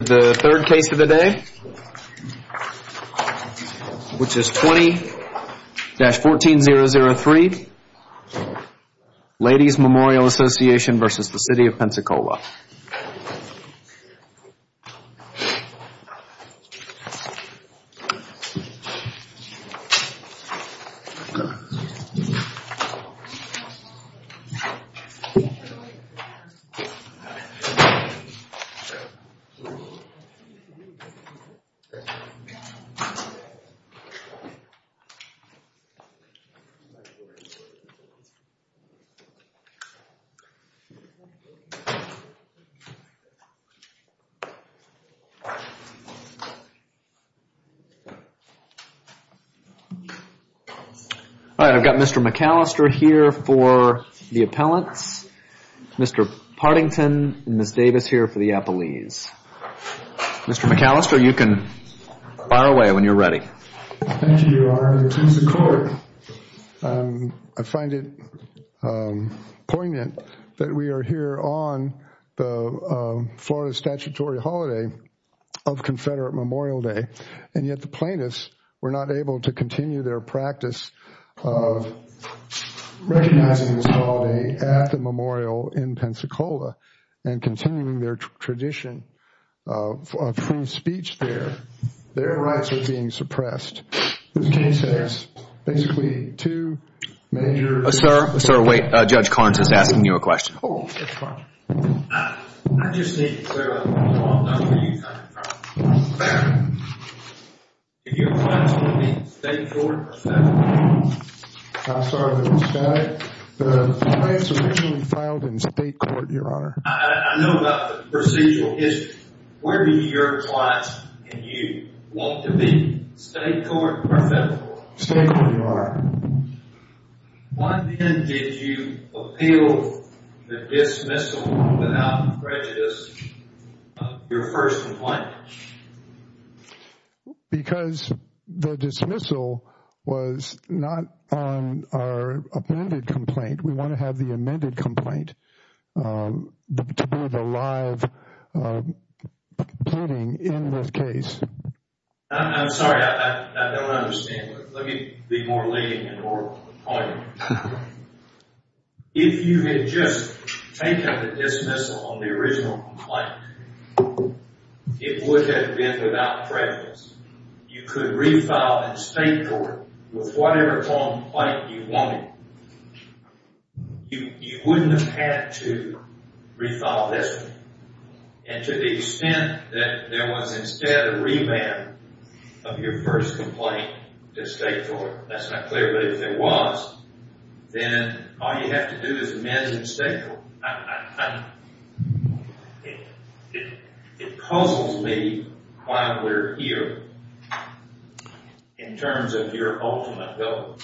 The third case of the day, which is 20-14003, Ladies Memorial Association versus the City of Pensacola. All right, I've got Mr. McAllister here for the appellants, Mr. Partington and Ms. Davis here for the appellees. Mr. McAllister, you can fire away when you're ready. Thank you, Your Honor, and to the court. I find it poignant that we are here on the Florida statutory holiday of Confederate Memorial Day, and yet the plaintiffs were not able to continue their practice of recognizing this holiday at the memorial in Pensacola and continuing their tradition of free speech there. Their rights are being suppressed. This case has basically two major... Sir, sir, wait. Judge Carnes is asking you a question. Oh, Judge Carnes. I just need to clear up one more thing before you try to file a claim. Your clients want to be in state court? I'm sorry, Judge Skye. The clients originally filed in state court, Your Honor. I know about the procedural history. State court. State court. State court. State court. State court. State court. State court. State court. State court. State court. State court, Your Honor. Why then did you appeal the dismissal without prejudice, your first complaint? Because the dismissal was not on our amended complaint. We want to have the amended complaint to be the live pleading in this case. I'm sorry. I don't understand. Let me be more leading in order. If you had just taken the dismissal on the original complaint, it would have been without prejudice. You could refile in state court with whatever complaint you wanted. You wouldn't have had to refile this one. And to the extent that there was instead a revamp of your first complaint to state court, that's not clear, but if there was, then all you have to do is amend in state court. It puzzles me why we're here in terms of your ultimate goal.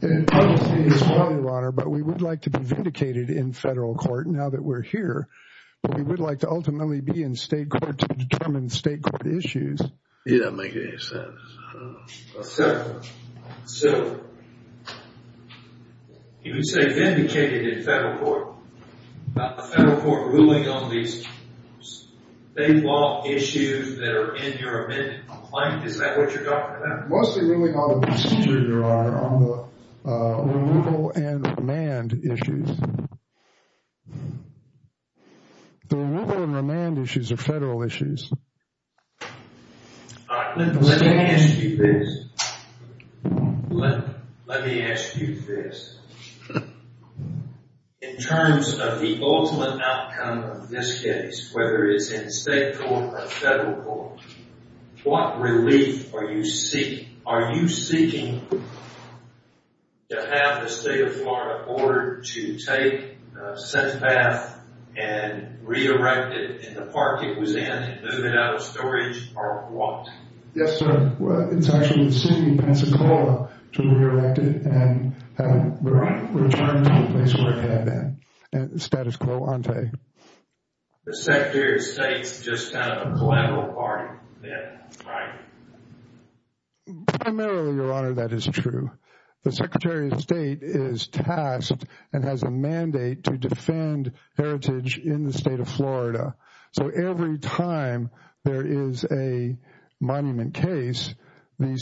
It puzzles me as well, Your Honor, but we would like to be vindicated in federal court now that we're here. We would like to ultimately be in state court to determine state court issues. You're not making any sense. So, you would say vindicated in federal court. Not the federal court ruling on these state law issues that are in your amended complaint. Is that what you're talking about? Your Honor, on the removal and remand issues. The removal and remand issues are federal issues. Let me ask you this. Let me ask you this. In terms of the ultimate outcome of this case, whether it's in state court or federal court, what relief are you seeking? Are you seeking to have the state of Florida ordered to take a set path and re-erect it in the park it was in and move it out of storage or what? Yes, sir. Well, it's actually the city of Pensacola to re-erect it and have it returned to the place where it had been. Status quo, I'll tell you. The Secretary of State's just kind of a collateral part of it, right? Primarily, Your Honor, that is true. The Secretary of State is tasked and has a mandate to defend heritage in the state of Florida. So, every time there is a monument case, the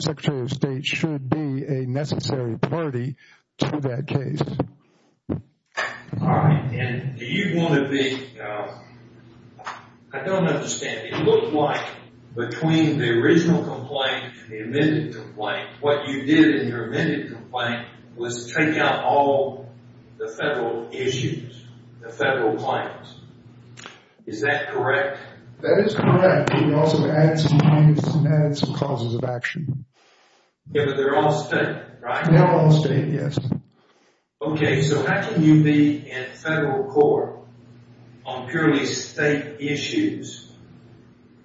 Secretary of State should be a necessary party to that case. All right. And do you want to be... I don't understand. It looked like between the original complaint and the amended complaint, what you did in your amended complaint was take out all the federal issues, the federal claims. Is that correct? That is correct. We also added some causes of action. Yeah, but they're all state, right? They're all state, yes. Okay, so how can you be in federal court on purely state issues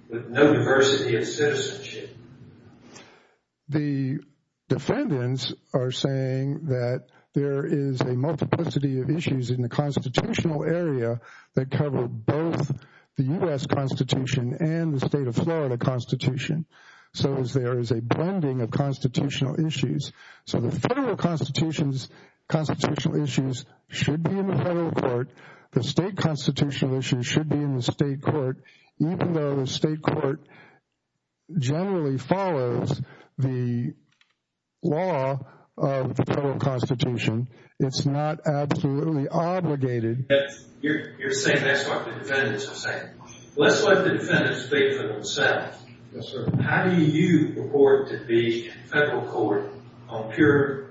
with no diversity of citizenship? The defendants are saying that there is a multiplicity of issues in the constitutional area that cover both the U.S. Constitution and the state of Florida Constitution. So, there is a blending of constitutional issues. So, the federal constitutional issues should be in the federal court. The state constitutional issues should be in the state court, even though the state court generally follows the law of the federal constitution. It's not absolutely obligated. You're saying that's what the defendants are saying. Let's let the defendants speak for themselves. Yes, sir. How do you report to the federal court on purely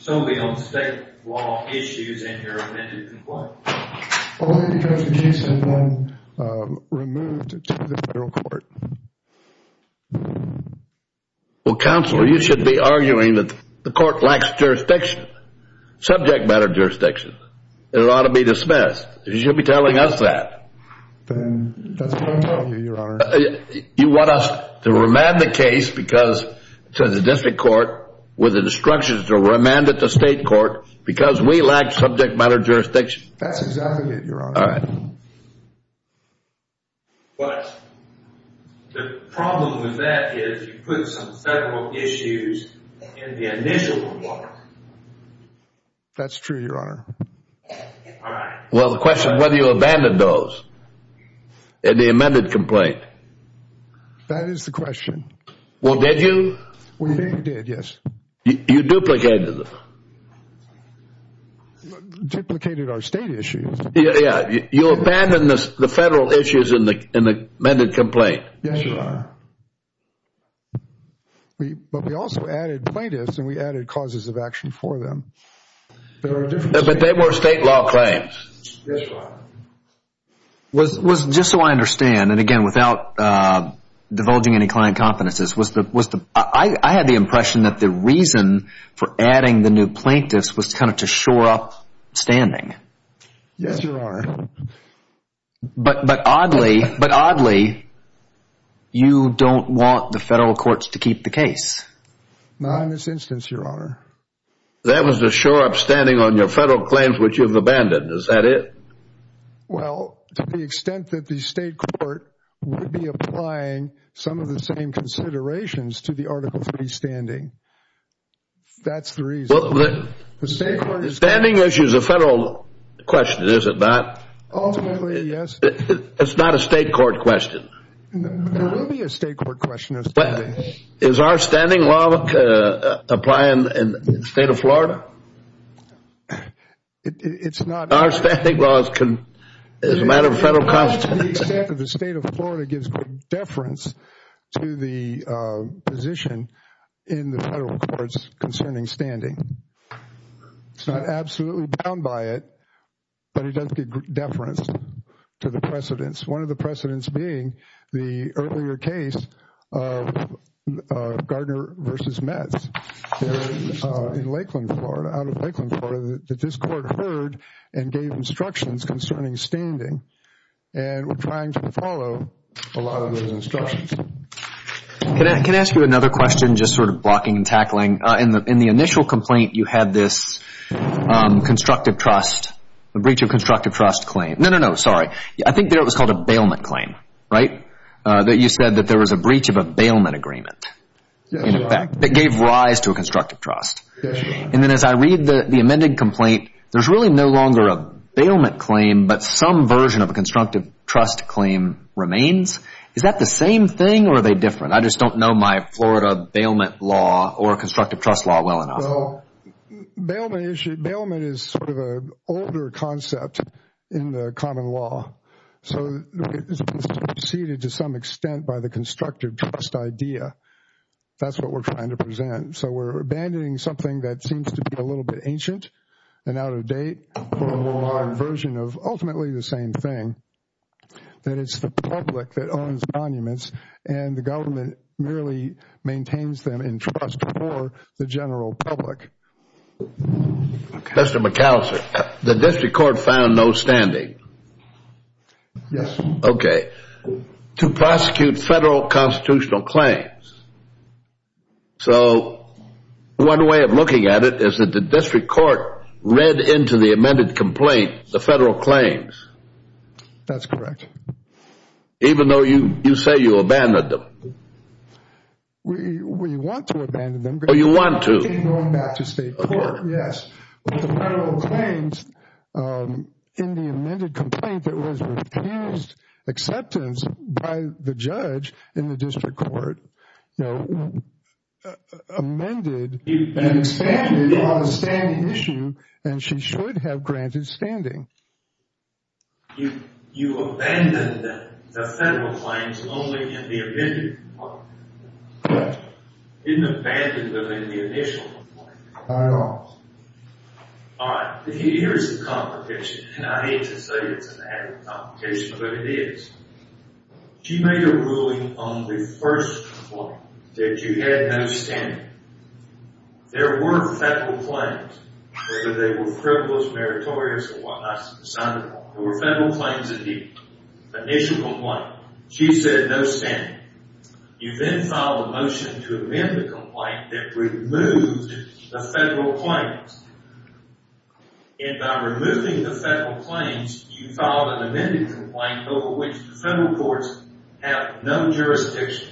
state law issues in your amended complaint? Only because the case has been removed to the federal court. Well, Counselor, you should be arguing that the court lacks jurisdiction, subject matter jurisdiction. It ought to be dismissed. You should be telling us that. That's what I'm telling you, Your Honor. You want us to remand the case to the district court with instructions to remand it to state court because we lack subject matter jurisdiction? That's exactly it, Your Honor. All right. But the problem with that is you put some federal issues in the initial report. That's true, Your Honor. Well, the question is whether you abandoned those in the amended complaint. That is the question. Well, did you? We did, yes. You duplicated them. Duplicated our state issues. Yeah, you abandoned the federal issues in the amended complaint. Yes, Your Honor. But we also added plaintiffs and we added causes of action for them. But they were state law claims. Yes, Your Honor. Just so I understand, and again, without divulging any client competences, I had the impression that the reason for adding the new plaintiffs was kind of to shore up standing. Yes, Your Honor. But oddly, you don't want the federal courts to keep the case. Not in this instance, Your Honor. That was to shore up standing on your federal claims, which you've abandoned. Is that it? Well, to the extent that the state court would be applying some of the same considerations to the Article III standing. That's the reason. Well, the standing issue is a federal question, is it not? Ultimately, yes. It's not a state court question. It will be a state court question. Is our standing law apply in the state of Florida? It's not. Our standing law is a matter of federal constituency. To the extent that the state of Florida gives deference to the position in the federal courts concerning standing. It's not absolutely bound by it, but it does give deference to the precedents. One of the precedents being the earlier case of Gardner v. Metz. In Lakeland, Florida. Out of Lakeland, Florida. That this court heard and gave instructions concerning standing. And we're trying to follow a lot of those instructions. Can I ask you another question? Just sort of blocking and tackling. In the initial complaint, you had this constructive trust. A breach of constructive trust claim. No, no, no. Sorry. I think there it was called a bailment claim. Right? That you said that there was a breach of a bailment agreement. In effect. That gave rise to a constructive trust. And then as I read the amended complaint, there's really no longer a bailment claim. But some version of a constructive trust claim remains. Is that the same thing or are they different? I just don't know my Florida bailment law or constructive trust law well enough. Bailment issue. Bailment is sort of a older concept in the common law. So it's preceded to some extent by the constructive trust idea. That's what we're trying to present. So we're abandoning something that seems to be a little bit ancient. And out of date. Version of ultimately the same thing. That it's the public that owns monuments. And the government merely maintains them in trust for the general public. Mr. McAllister, the district court found no standing. Yes. Okay. To prosecute federal constitutional claims. So one way of looking at it is that the district court read into the amended complaint the federal claims. That's correct. Even though you say you abandoned them. We want to abandon them. Oh, you want to? Going back to state court, yes. But the federal claims in the amended complaint that was refused acceptance by the judge in the district court. Amended and expanded on the standing issue. And she should have granted standing. You abandoned the federal claims only in the amended complaint. Correct. You didn't abandon them in the initial complaint. Not at all. All right. Here's the complication. And I hate to say it's an added complication, but it is. She made a ruling on the first complaint that you had no standing. There were federal claims, whether they were frivolous, meritorious, or what not. There were federal claims in the initial complaint. She said no standing. You then filed a motion to amend the complaint that removed the federal claims. And by removing the federal claims, you filed an amended complaint over which the federal courts have no jurisdiction.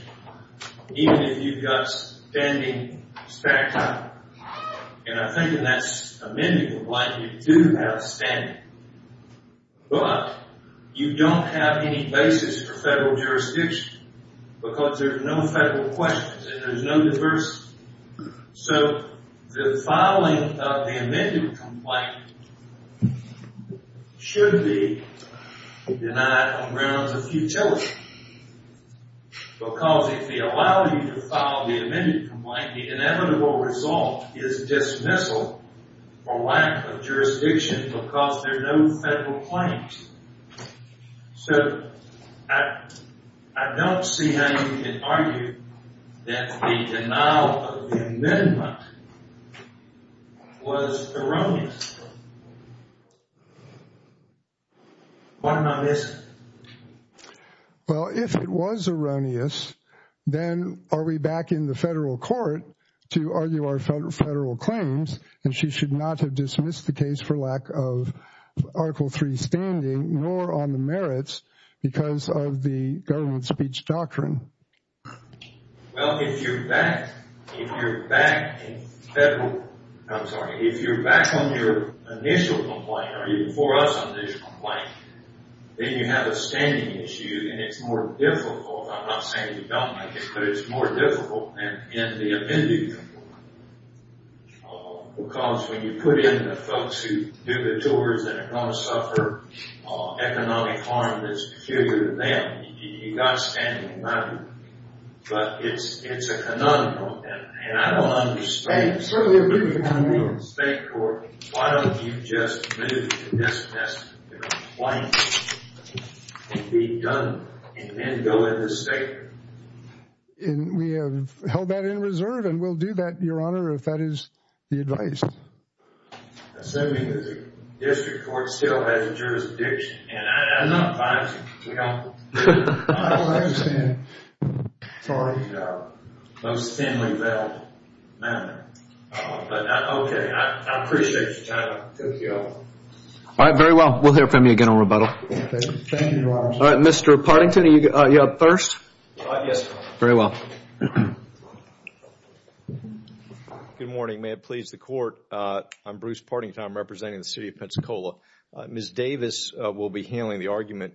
Even if you've got standing, and I think in that amended complaint, you do have standing. But you don't have any basis for federal jurisdiction because there's no federal questions and there's no diversity. So the filing of the amended complaint should be denied on grounds of futility. Because if they allow you to file the amended complaint, the inevitable result is dismissal or lack of jurisdiction because there are no federal claims. So I don't see how you can argue that the denial of the amendment was erroneous. What am I missing? Well, if it was erroneous, then are we back in the federal court to argue our federal claims? And she should not have dismissed the case for lack of Article III standing, nor on the merits because of the government speech doctrine. Well, if you're back on your initial complaint, or even before us on the initial complaint, then you have a standing issue and it's more difficult. I'm not saying you don't make it, but it's more difficult than in the amended complaint. Because when you put in the folks who do the chores that are going to suffer economic harm that's peculiar to them, and you've got standing money, but it's a conundrum. And I don't understand. If you're in the state court, why don't you just move to dismiss the complaint and be done and then go in the state court? And we have held that in reserve and we'll do that, Your Honor, if that is the advice. Assuming that the district court still has jurisdiction. And I'm not advising, we don't. I don't understand. Sorry, Your Honor. That was a thinly veiled matter. But, okay, I appreciate your time. Thank you, Your Honor. All right, very well. We'll hear from you again on rebuttal. Thank you, Your Honor. All right, Mr. Partington, are you up first? Yes, Your Honor. Very well. Good morning. May it please the Court. I'm Bruce Partington. I'm representing the city of Pensacola. Ms. Davis will be handling the argument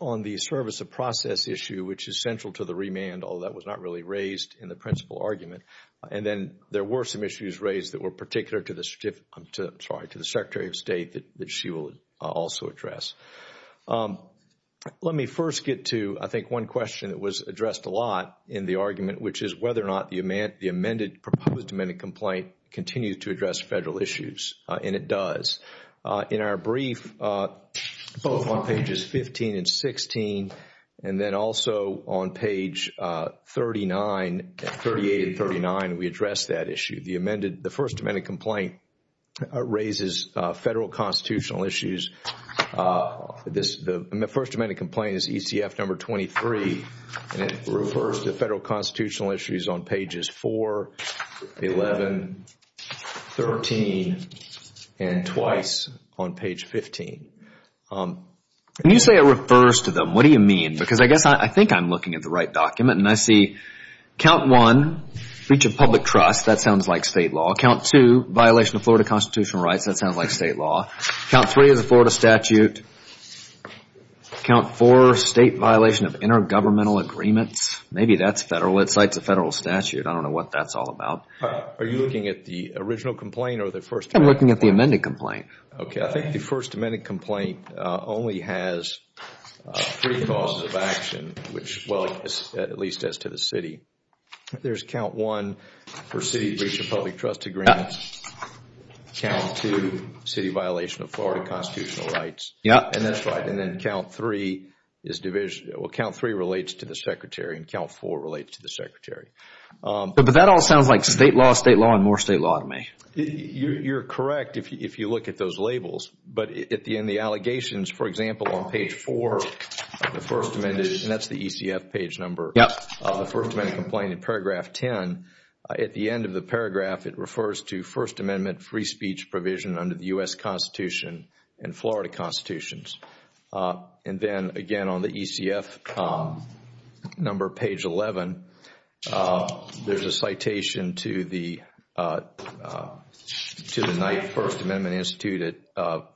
on the service of process issue, which is central to the remand, although that was not really raised in the principal argument. And then there were some issues raised that were particular to the Secretary of State that she will also address. Let me first get to, I think, one question that was addressed a lot in the argument, which is whether or not the proposed amended complaint continues to address federal issues. And it does. In our brief, both on pages 15 and 16, and then also on page 38 and 39, we addressed that issue. The first amended complaint raises federal constitutional issues. The first amended complaint is ECF number 23. And it refers to federal constitutional issues on pages 4, 11, 13, and twice on page 15. When you say it refers to them, what do you mean? Because I guess I think I'm looking at the right document. And I see count one, breach of public trust. That sounds like state law. Count two, violation of Florida constitutional rights. That sounds like state law. Count three is a Florida statute. Count four, state violation of intergovernmental agreements. Maybe that's federal. It cites a federal statute. I don't know what that's all about. Are you looking at the original complaint or the first? I'm looking at the amended complaint. Okay. I think the first amended complaint only has three causes of action, which, well, at least as to the city. There's count one for city breach of public trust agreements. Count two, city violation of Florida constitutional rights. Yeah. And that's right. And then count three is division. Well, count three relates to the secretary and count four relates to the secretary. But that all sounds like state law, state law, and more state law to me. You're correct if you look at those labels. But in the allegations, for example, on page four, the first amended, and that's the ECF page number, the first amended complaint in paragraph 10, at the end of the paragraph it refers to First Amendment free speech provision under the U.S. Constitution and Florida constitutions. And then, again, on the ECF number, page 11, there's a citation to the Knight First Amendment Institute at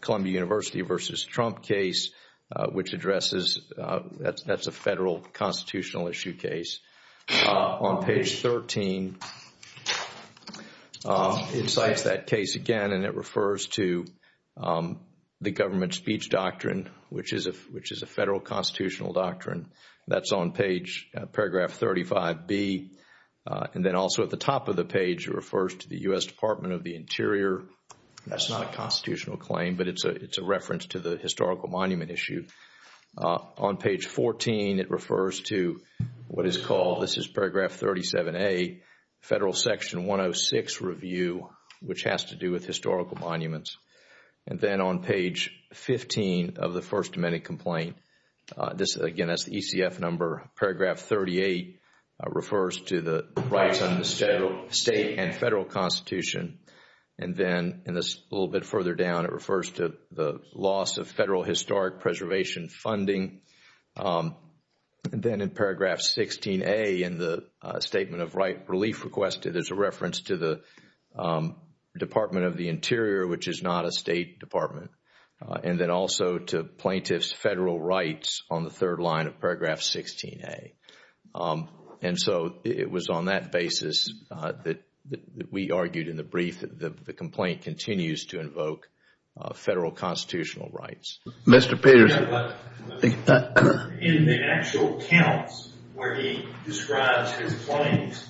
Columbia University versus Trump case, which addresses, that's a federal constitutional issue case. On page 13, it cites that case again and it refers to the government speech doctrine, which is a federal constitutional doctrine. That's on page, paragraph 35B. And then also at the top of the page, it refers to the U.S. Department of the Interior. That's not a constitutional claim, but it's a reference to the historical monument issue. On page 14, it refers to what is called, this is paragraph 37A, federal section 106 review, which has to do with historical monuments. And then on page 15 of the first amended complaint, this, again, that's the ECF number, paragraph 38 refers to the rights under the state and federal constitution. And then a little bit further down, it refers to the loss of federal historic preservation funding. And then in paragraph 16A in the statement of right relief requested, there's a reference to the Department of the Interior, which is not a state department. And then also to plaintiff's federal rights on the third line of paragraph 16A. And so it was on that basis that we argued in the brief that the complaint continues to invoke federal constitutional rights. Mr. Peterson. In the actual counts where he describes his claims,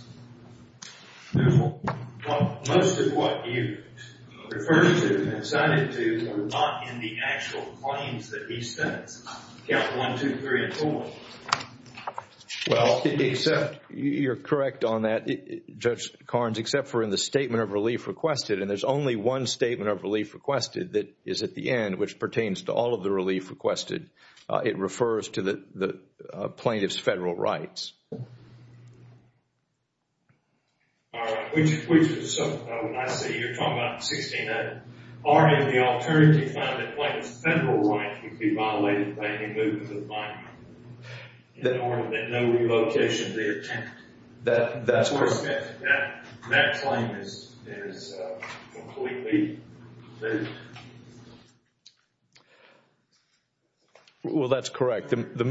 most of what you referred to and cited to were not in the actual claims that he states. Yeah, one, two, three, and four. Well, except you're correct on that, Judge Carnes, except for in the statement of relief requested. And there's only one statement of relief requested that is at the end, which pertains to all of the relief requested. It refers to the plaintiff's federal rights. All right. So I see you're talking about 16A. That's correct. Well, that's correct. The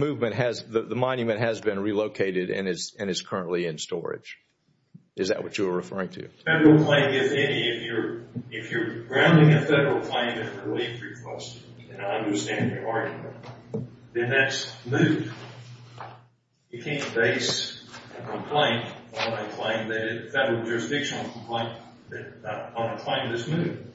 monument has been relocated and is currently in storage. Is that what you were referring to? If I'm doing a federal claim in a relief request and I understand your argument, then that's moot. You can't base a complaint on a federal jurisdictional complaint on a claim that's moot.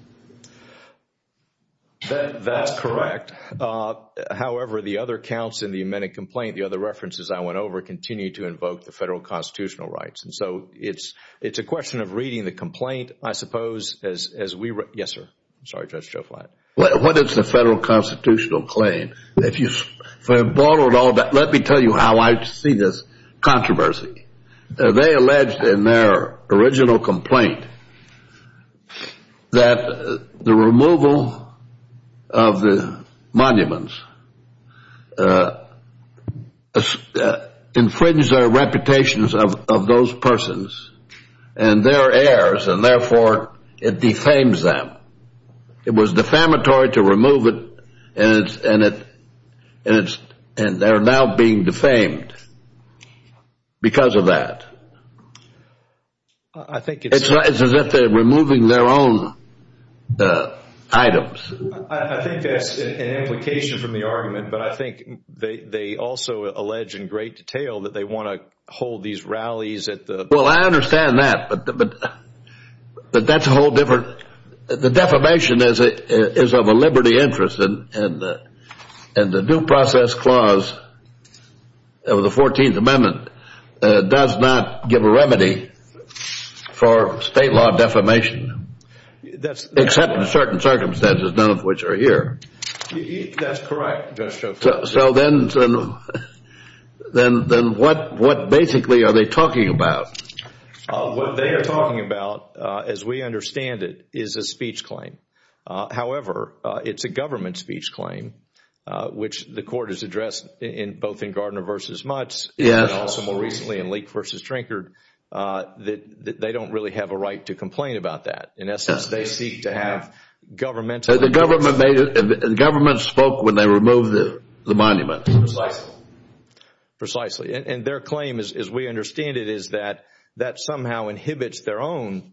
That's correct. However, the other counts in the amended complaint, the other references I went over, continue to invoke the federal constitutional rights. And so it's a question of reading the complaint, I suppose, Yes, sir. I'm sorry, Judge Joflat. Well, what is the federal constitutional claim? If I borrowed all that, let me tell you how I see this controversy. They alleged in their original complaint that the removal of the monuments infringes their reputations of those persons and their heirs and therefore it defames them. It was defamatory to remove it and they're now being defamed because of that. I think it's It's as if they're removing their own items. I think that's an implication from the argument, but I think they also allege in great detail that they want to hold these rallies at the Well, I understand that, but that's a whole different The defamation is of a liberty interest and the due process clause of the 14th Amendment does not give a remedy for state law defamation, except in certain circumstances, none of which are here. That's correct, Judge Joflat. So then, what basically are they talking about? What they are talking about, as we understand it, is a speech claim. However, it's a government speech claim, which the court has addressed both in Gardner v. Mutts and also more recently in Leek v. Trinkard, that they don't really have a right to complain about that. In essence, they seek to have government The government spoke when they removed the monuments. Precisely. Precisely, and their claim, as we understand it, is that that somehow inhibits their own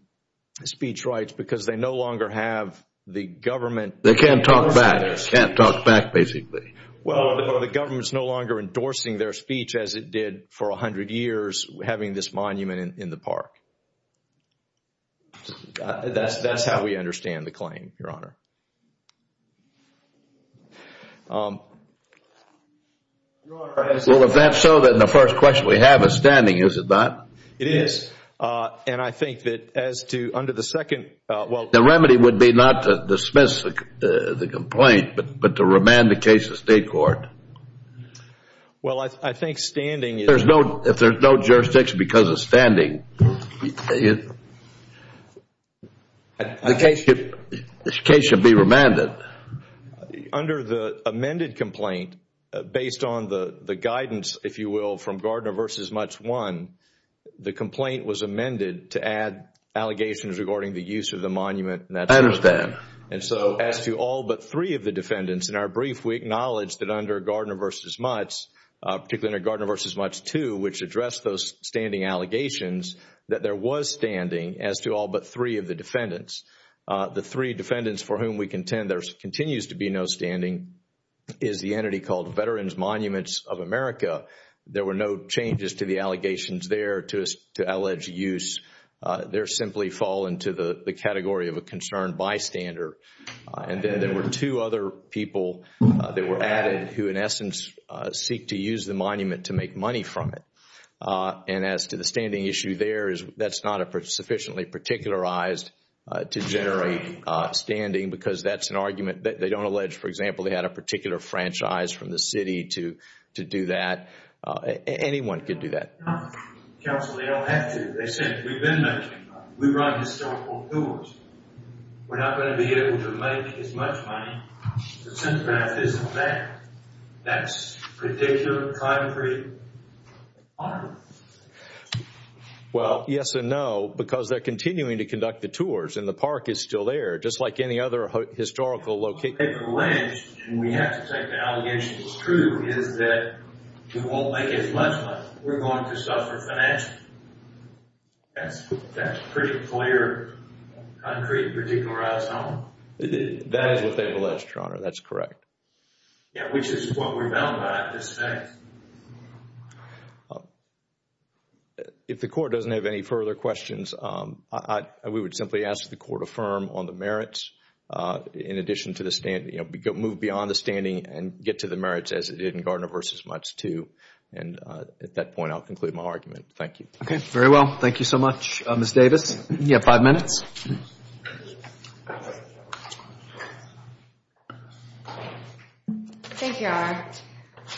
speech rights because they no longer have the government They can't talk back. They can't talk back, basically. Well, the government is no longer endorsing their speech, as it did for 100 years, having this monument in the park. That's how we understand the claim, Your Honor. Well, if that's so, then the first question we have is standing, is it not? It is. And I think that as to under the second The remedy would be not to dismiss the complaint, but to remand the case to state court. Well, I think standing is If there's no jurisdiction because of standing, then the case should be remanded. Under the amended complaint, based on the guidance, if you will, from Gardner v. Mutz I, the complaint was amended to add allegations regarding the use of the monument and that sort of thing. I understand. And so as to all but three of the defendants in our brief, we acknowledge that under Gardner v. Mutz, particularly under Gardner v. Mutz II, which addressed those standing allegations, that there was standing as to all but three of the defendants. The three defendants for whom we contend there continues to be no standing is the entity called Veterans Monuments of America. There were no changes to the allegations there to allege use. They simply fall into the category of a concerned bystander. And then there were two other people that were added who in essence seek to use the monument to make money from it. And as to the standing issue there, that's not sufficiently particularized to generate standing because that's an argument that they don't allege. For example, they had a particular franchise from the city to do that. Anyone could do that. Counsel, they don't have to. They said we've been making money. We run historical tours. We're not going to be able to make as much money since that isn't there. That's particular, concrete. Well, yes and no because they're continuing to conduct the tours and the park is still there just like any other historical location. We have to take the allegation that's true is that we won't make as much money. We're going to suffer financially. That's pretty clear, concrete, particularized. That is what they've alleged, Your Honor. That's correct. If the court doesn't have any further questions, we would simply ask the court affirm on the merits in addition to the standing, move beyond the standing and get to the merits as it did in Gardner v. Mutz II. And at that point, I'll conclude my argument. Thank you. Okay, very well. Thank you so much, Ms. Davis. You have five minutes. Thank you, Your Honor.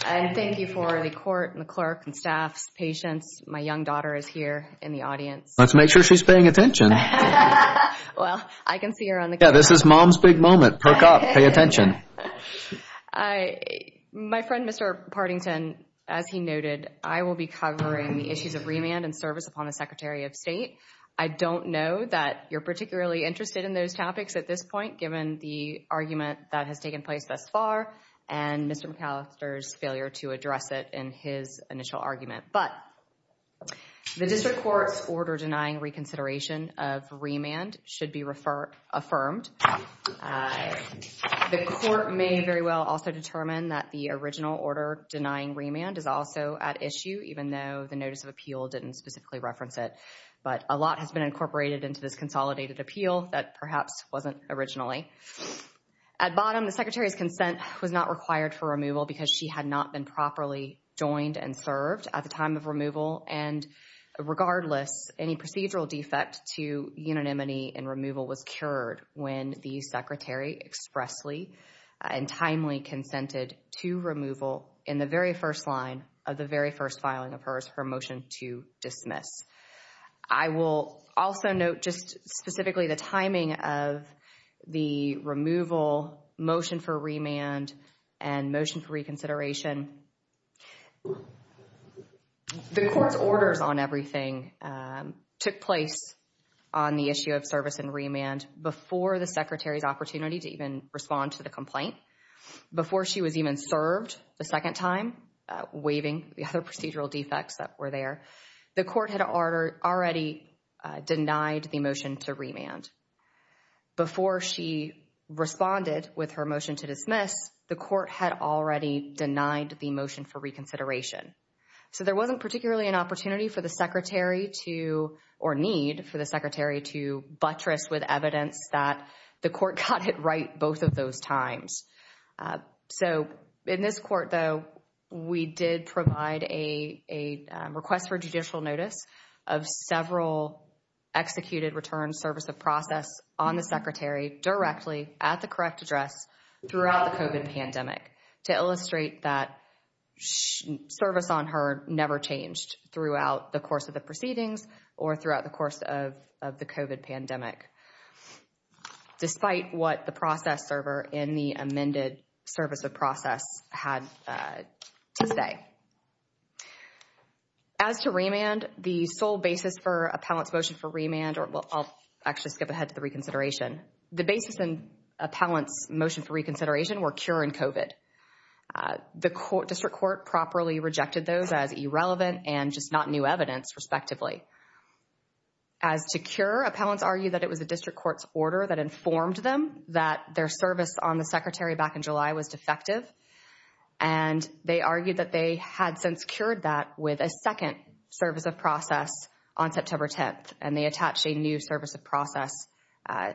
And thank you for the court and the clerk and staff's patience. My young daughter is here in the audience. Let's make sure she's paying attention. Well, I can see her on the camera. Yeah, this is mom's big moment. Perk up. Pay attention. My friend, Mr. Partington, as he noted, I will be covering the issues of remand and service upon the Secretary of State. I don't know that you're particularly interested in those topics at this point given the argument that has taken place thus far and Mr. McAllister's failure to address it in his initial argument. But the district court's order denying reconsideration of remand should be affirmed. The court may very well also determine that the original order denying remand is also at issue, even though the notice of appeal didn't specifically reference it. But a lot has been incorporated into this consolidated appeal that perhaps wasn't originally. At bottom, the Secretary's consent was not required for removal because she had not been properly joined and served at the time of removal. And regardless, any procedural defect to unanimity in removal was cured when the Secretary expressly and timely consented to removal in the very first line of the very first filing of hers, her motion to dismiss. I will also note just specifically the timing of the removal, motion for remand, and motion for reconsideration. The court's orders on everything took place on the issue of service and remand before the Secretary's opportunity to even respond to the complaint, before she was even served the second time, waiving the other procedural defects that were there. The court had already denied the motion to remand. Before she responded with her motion to dismiss, the court had already denied the motion for reconsideration. So there wasn't particularly an opportunity for the Secretary to, or need for the Secretary to buttress with evidence that the court got it right both of those times. So in this court though, we did provide a request for judicial notice of several executed returns, service of process on the Secretary directly at the correct address throughout the COVID pandemic to illustrate that service on her never changed throughout the course of the proceedings or throughout the course of the COVID pandemic. Despite what the process server in the amended service of process had to say. As to remand, the sole basis for appellant's motion for remand, or I'll actually skip ahead to the reconsideration. The basis in appellant's motion for reconsideration were cure and COVID. The district court properly rejected those as irrelevant and just not new evidence respectively. As to cure, appellants argue that it was a district court's order that informed them that their service on the Secretary back in July was defective and they argued that they had since cured that with a second service of process on September 10th and they attached a new service of process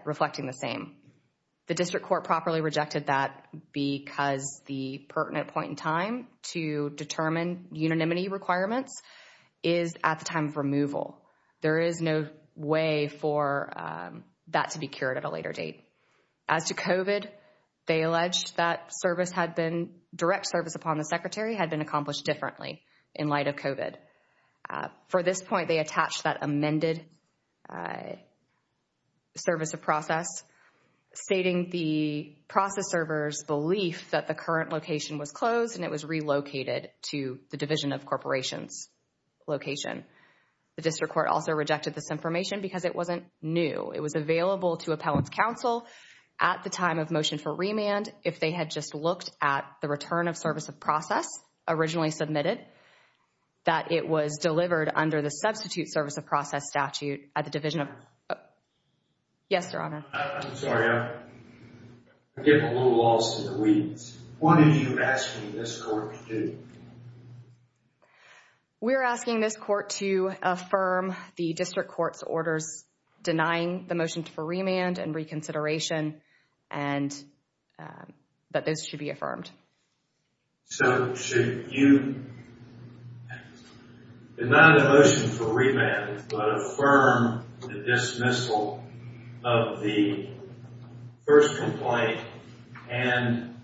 reflecting the same. The district court properly rejected that because the pertinent point in time to determine unanimity requirements is at the time of removal. There is no way for that to be cured at a later date. As to COVID, they alleged that direct service upon the Secretary had been accomplished differently in light of COVID. For this point, they attached that amended service of process stating the process server's belief that the current location was closed and it was relocated to the Division of Corporations location. The district court also rejected this information because it wasn't new. It was available to appellant's counsel at the time of motion for remand if they had just looked at the return of service of process originally submitted that it was delivered under the substitute service of process statute at the Division of... Yes, Your Honor. I'm sorry. I'm getting a little lost in the weeds. What are you asking this court to do? We're asking this court to affirm the district court's orders denying the motion for remand and reconsideration and that this should be affirmed. So should you deny the motion for remand but affirm the dismissal of the first complaint and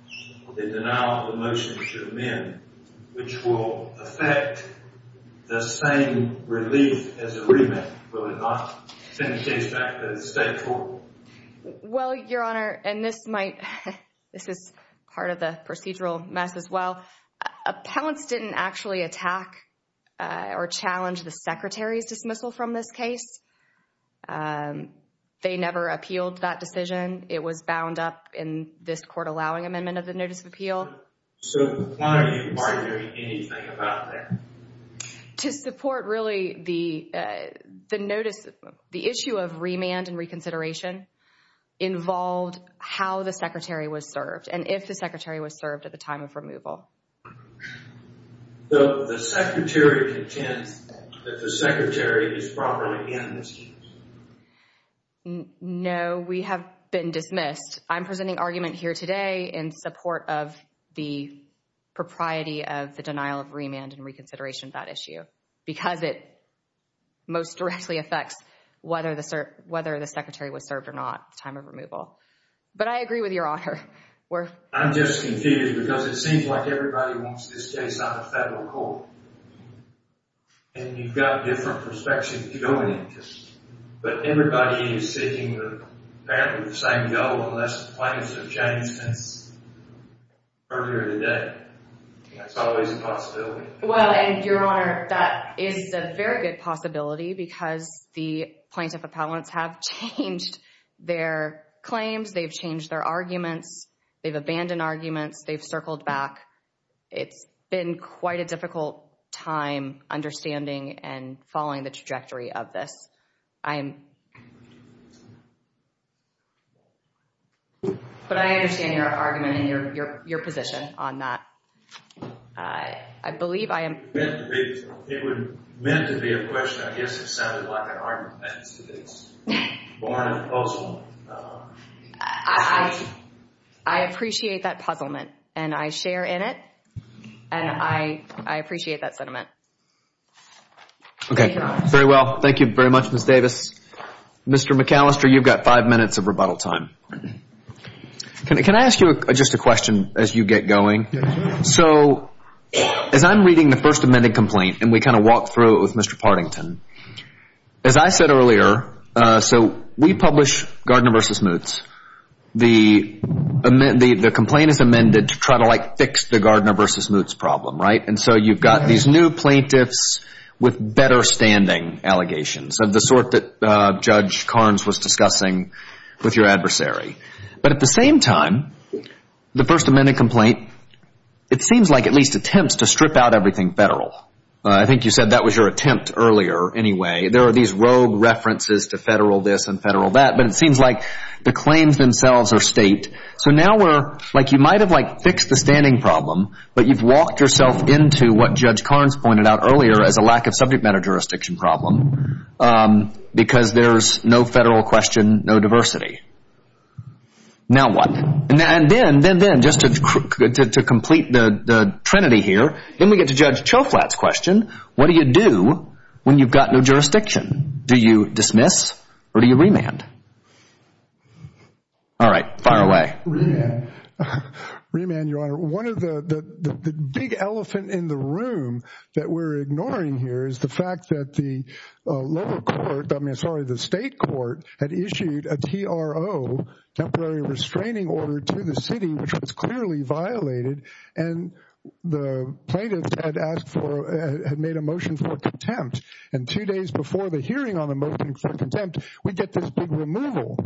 the denial of the motion should amend which will affect the same relief as the remand? Will it not send the case back to the state court? Well, Your Honor, and this might... This is part of the procedural mess as well. Appellants didn't actually attack or challenge the secretary's dismissal from this case. They never appealed that decision. It was bound up in this court allowing amendment of the notice of appeal. So why are you arguing anything about that? To support really the notice, the issue of remand and reconsideration involved how the secretary was served and if the secretary was served at the time of removal. So the secretary contends that the secretary is properly amnestied? No, we have been dismissed. I'm presenting argument here today in support of the propriety of the denial of remand and reconsideration of that issue because it most directly affects whether the secretary was served or not at the time of removal. But I agree with Your Honor. I'm just confused because it seems like everybody wants this case out of federal court. And you've got different perspectives, different interests. But everybody is seeking the same goal unless the claims have changed since earlier today. That's always a possibility. Well, and Your Honor, that is a very good possibility because the plaintiff appellants have changed their claims. They've changed their arguments. They've abandoned arguments. They've circled back. It's been quite a difficult time understanding and following the trajectory of this. But I understand your argument and your position on that. It would have meant to be a question. I guess it sounded like an argument. I appreciate that puzzlement, and I share in it, and I appreciate that sentiment. Okay, very well. Thank you very much, Ms. Davis. Mr. McAllister, you've got five minutes of rebuttal time. Can I ask you just a question as you get going? Yes, Your Honor. So as I'm reading the first amended complaint, and we kind of walk through it with Mr. Partington, as I said earlier, so we publish Gardner v. Moots. The complaint is amended to try to, like, fix the Gardner v. Moots problem, right? And so you've got these new plaintiffs with better standing allegations of the sort that Judge Carnes was discussing with your adversary. But at the same time, the first amended complaint, it seems like at least attempts to strip out everything federal. I think you said that was your attempt earlier anyway. There are these rogue references to federal this and federal that, but it seems like the claims themselves are state. So now we're, like, you might have, like, fixed the standing problem, but you've walked yourself into what Judge Carnes pointed out earlier as a lack of subject matter jurisdiction problem because there's no federal question, no diversity. Now what? And then just to complete the trinity here, then we get to Judge Choflat's question. What do you do when you've got no jurisdiction? Do you dismiss or do you remand? All right. Fire away. Remand. Remand, Your Honor. One of the big elephant in the room that we're ignoring here is the fact that the state court had issued a TRO, temporary restraining order, to the city, which was clearly violated, and the plaintiffs had made a motion for contempt. And two days before the hearing on the motion for contempt, we get this big removal.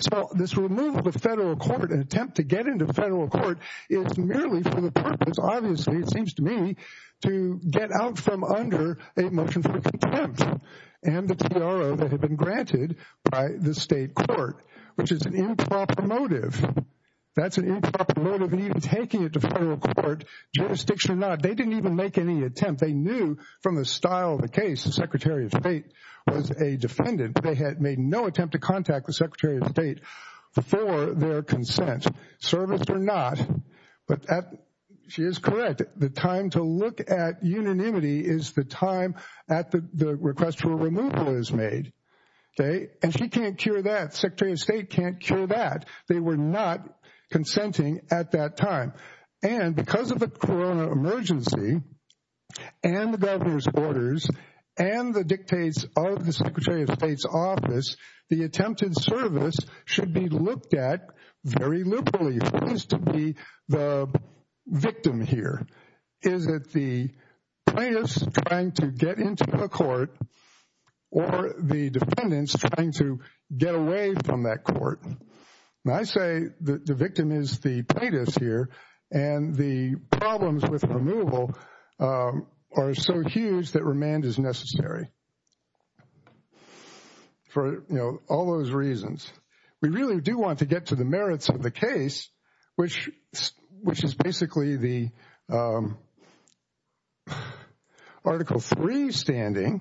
So this removal to federal court, an attempt to get into federal court, is merely for the purpose, obviously, it seems to me, to get out from under a motion for contempt and the TRO that had been granted by the state court, which is an improper motive. That's an improper motive, and even taking it to federal court, jurisdiction or not, they didn't even make any attempt. They knew from the style of the case the Secretary of State was a defendant. They had made no attempt to contact the Secretary of State before their consent, serviced or not. She is correct. The time to look at unanimity is the time at the request for removal is made. And she can't cure that. The Secretary of State can't cure that. They were not consenting at that time. And because of the corona emergency and the governor's orders and the dictates of the Secretary of State's office, the attempted service should be looked at very liberally. Who needs to be the victim here? Is it the plaintiffs trying to get into a court or the defendants trying to get away from that court? And I say the victim is the plaintiffs here, and the problems with removal are so huge that remand is necessary for all those reasons. We really do want to get to the merits of the case, which is basically the Article III standing,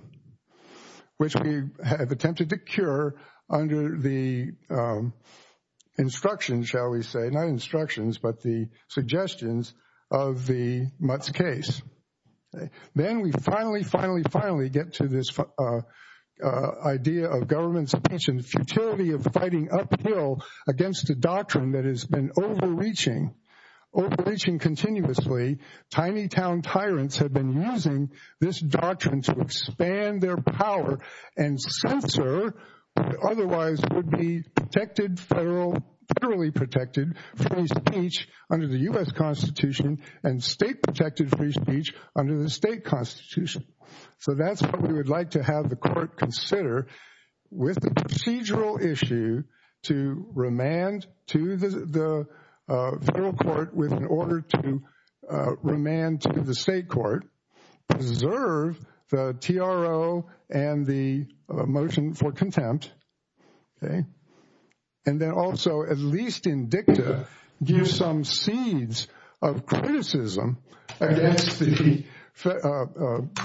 which we have attempted to cure under the instructions, shall we say, not instructions, but the suggestions of the Mutz case. Then we finally, finally, finally get to this idea of government's intention, the futility of fighting uphill against a doctrine that has been overreaching, overreaching continuously. Tiny-town tyrants have been using this doctrine to expand their power and censor what otherwise would be protected, federally protected, free speech under the U.S. Constitution and state-protected free speech under the state constitution. So that's what we would like to have the court consider with the procedural issue to remand to the federal court with an order to remand to the state court, preserve the TRO and the motion for contempt, and then also, at least in dicta, give some seeds of criticism against the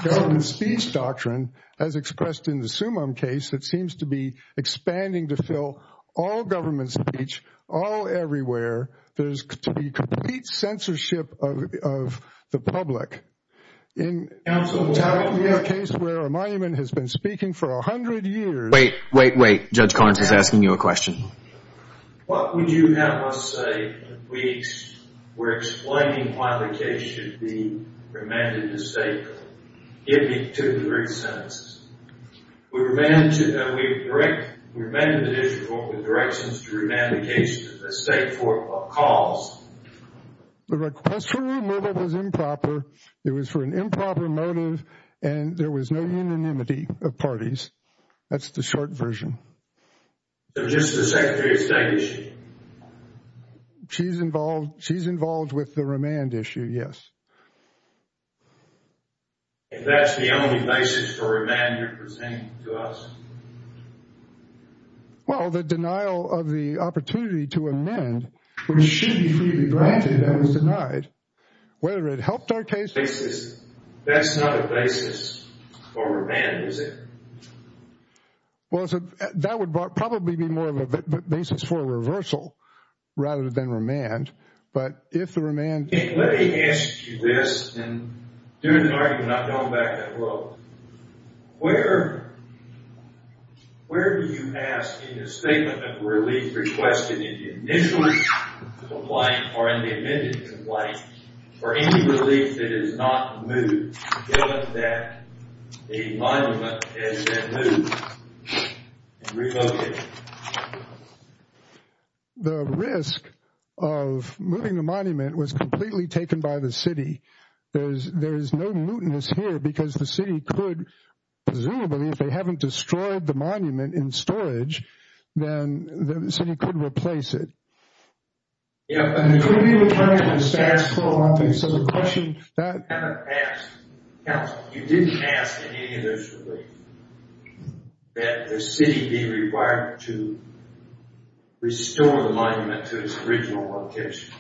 government speech doctrine as expressed in the Summum case that seems to be expanding to fill all government speech, all everywhere. There's to be complete censorship of the public. In the case where a monument has been speaking for 100 years... Wait, wait, wait. Judge Collins is asking you a question. What would you have us say if we were explaining why the case should be remanded to state court, giving two or three sentences? We remanded the district court with directions to remand the case to the state court because... The request for removal was improper. It was for an improper motive, and there was no unanimity of parties. That's the short version. So just the Secretary of State issue? She's involved with the remand issue, yes. If that's the only basis for remand you're presenting to us? Well, the denial of the opportunity to amend which should be freely granted and was denied, whether it helped our case... That's not a basis for remand, is it? Well, that would probably be more of a basis for reversal rather than remand, but if the remand... Let me ask you this, and during an argument I've gone back that road. Where do you ask in a statement of relief requested in the initial complaint or in the amended complaint for any relief that is not moved given that a monument has been moved and relocated? The risk of moving the monument was completely taken by the city. There is no mootness here because the city could, presumably, if they haven't destroyed the monument in storage, then the city could replace it. Yeah, but it could be returned to the status quo, so the question is that... You haven't asked, counsel, you didn't ask in any of those reliefs that the city be required to restore the monument to its original location.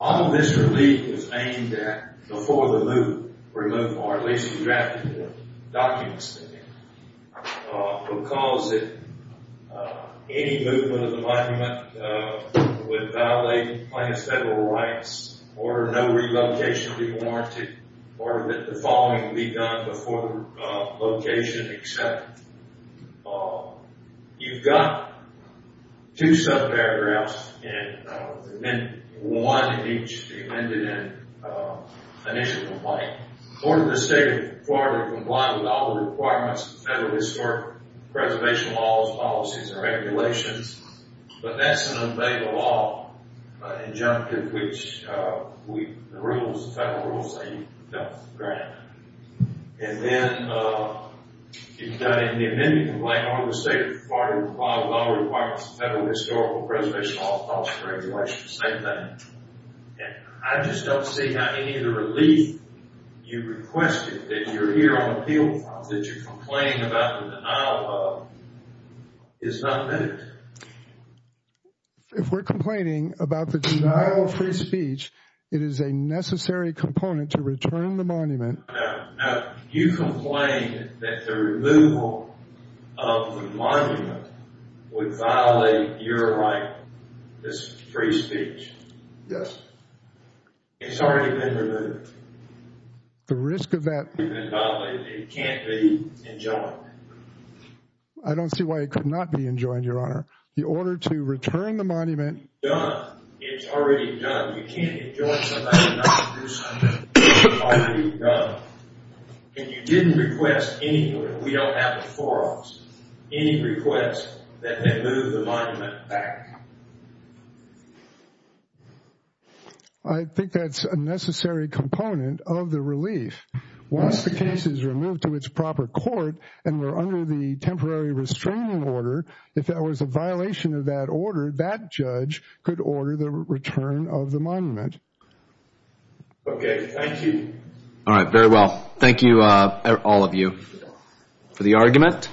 All of this relief was aimed at, before the move, or at least drafted the documents in there because if any movement of the monument would violate the plaintiff's federal rights or no relocation would be warranted or that the following would be done before the location accepted. You've got two sub-paragraphs in the amendment. One in each of the amended and initial complaint. In order for the state of Florida to comply with all the requirements of the federal historic preservation laws, policies, and regulations, but that's an unbailable law, an injunctive which the rules, the federal rules say you've done with the grant. And then you've got in the amendment complaint on the state of Florida to comply with all requirements of the federal historical preservation laws, policies, and regulations, same thing. And I just don't see how any of the relief you requested that you're here on appeal that you're complaining about the denial of is not moved. If we're complaining about the denial of free speech, it is a necessary component to return the monument. No, no. You complain that the removal of the monument would violate your right, this free speech. Yes. It's already been removed. The risk of that It can't be enjoined. I don't see why it could not be enjoined, Your Honor. In order to return the monument It's done. It's already done. You can't enjoin something and not do something. It's already done. And you didn't request anywhere, we don't have it before us, any request that they move the monument back. I think that's a necessary component of the relief. Once the case is removed to its proper court and we're under the temporary restraining order, if there was a violation of that order, that judge could order the return of the monument. Okay, thank you. All right, very well. Thank you, all of you, for the argument.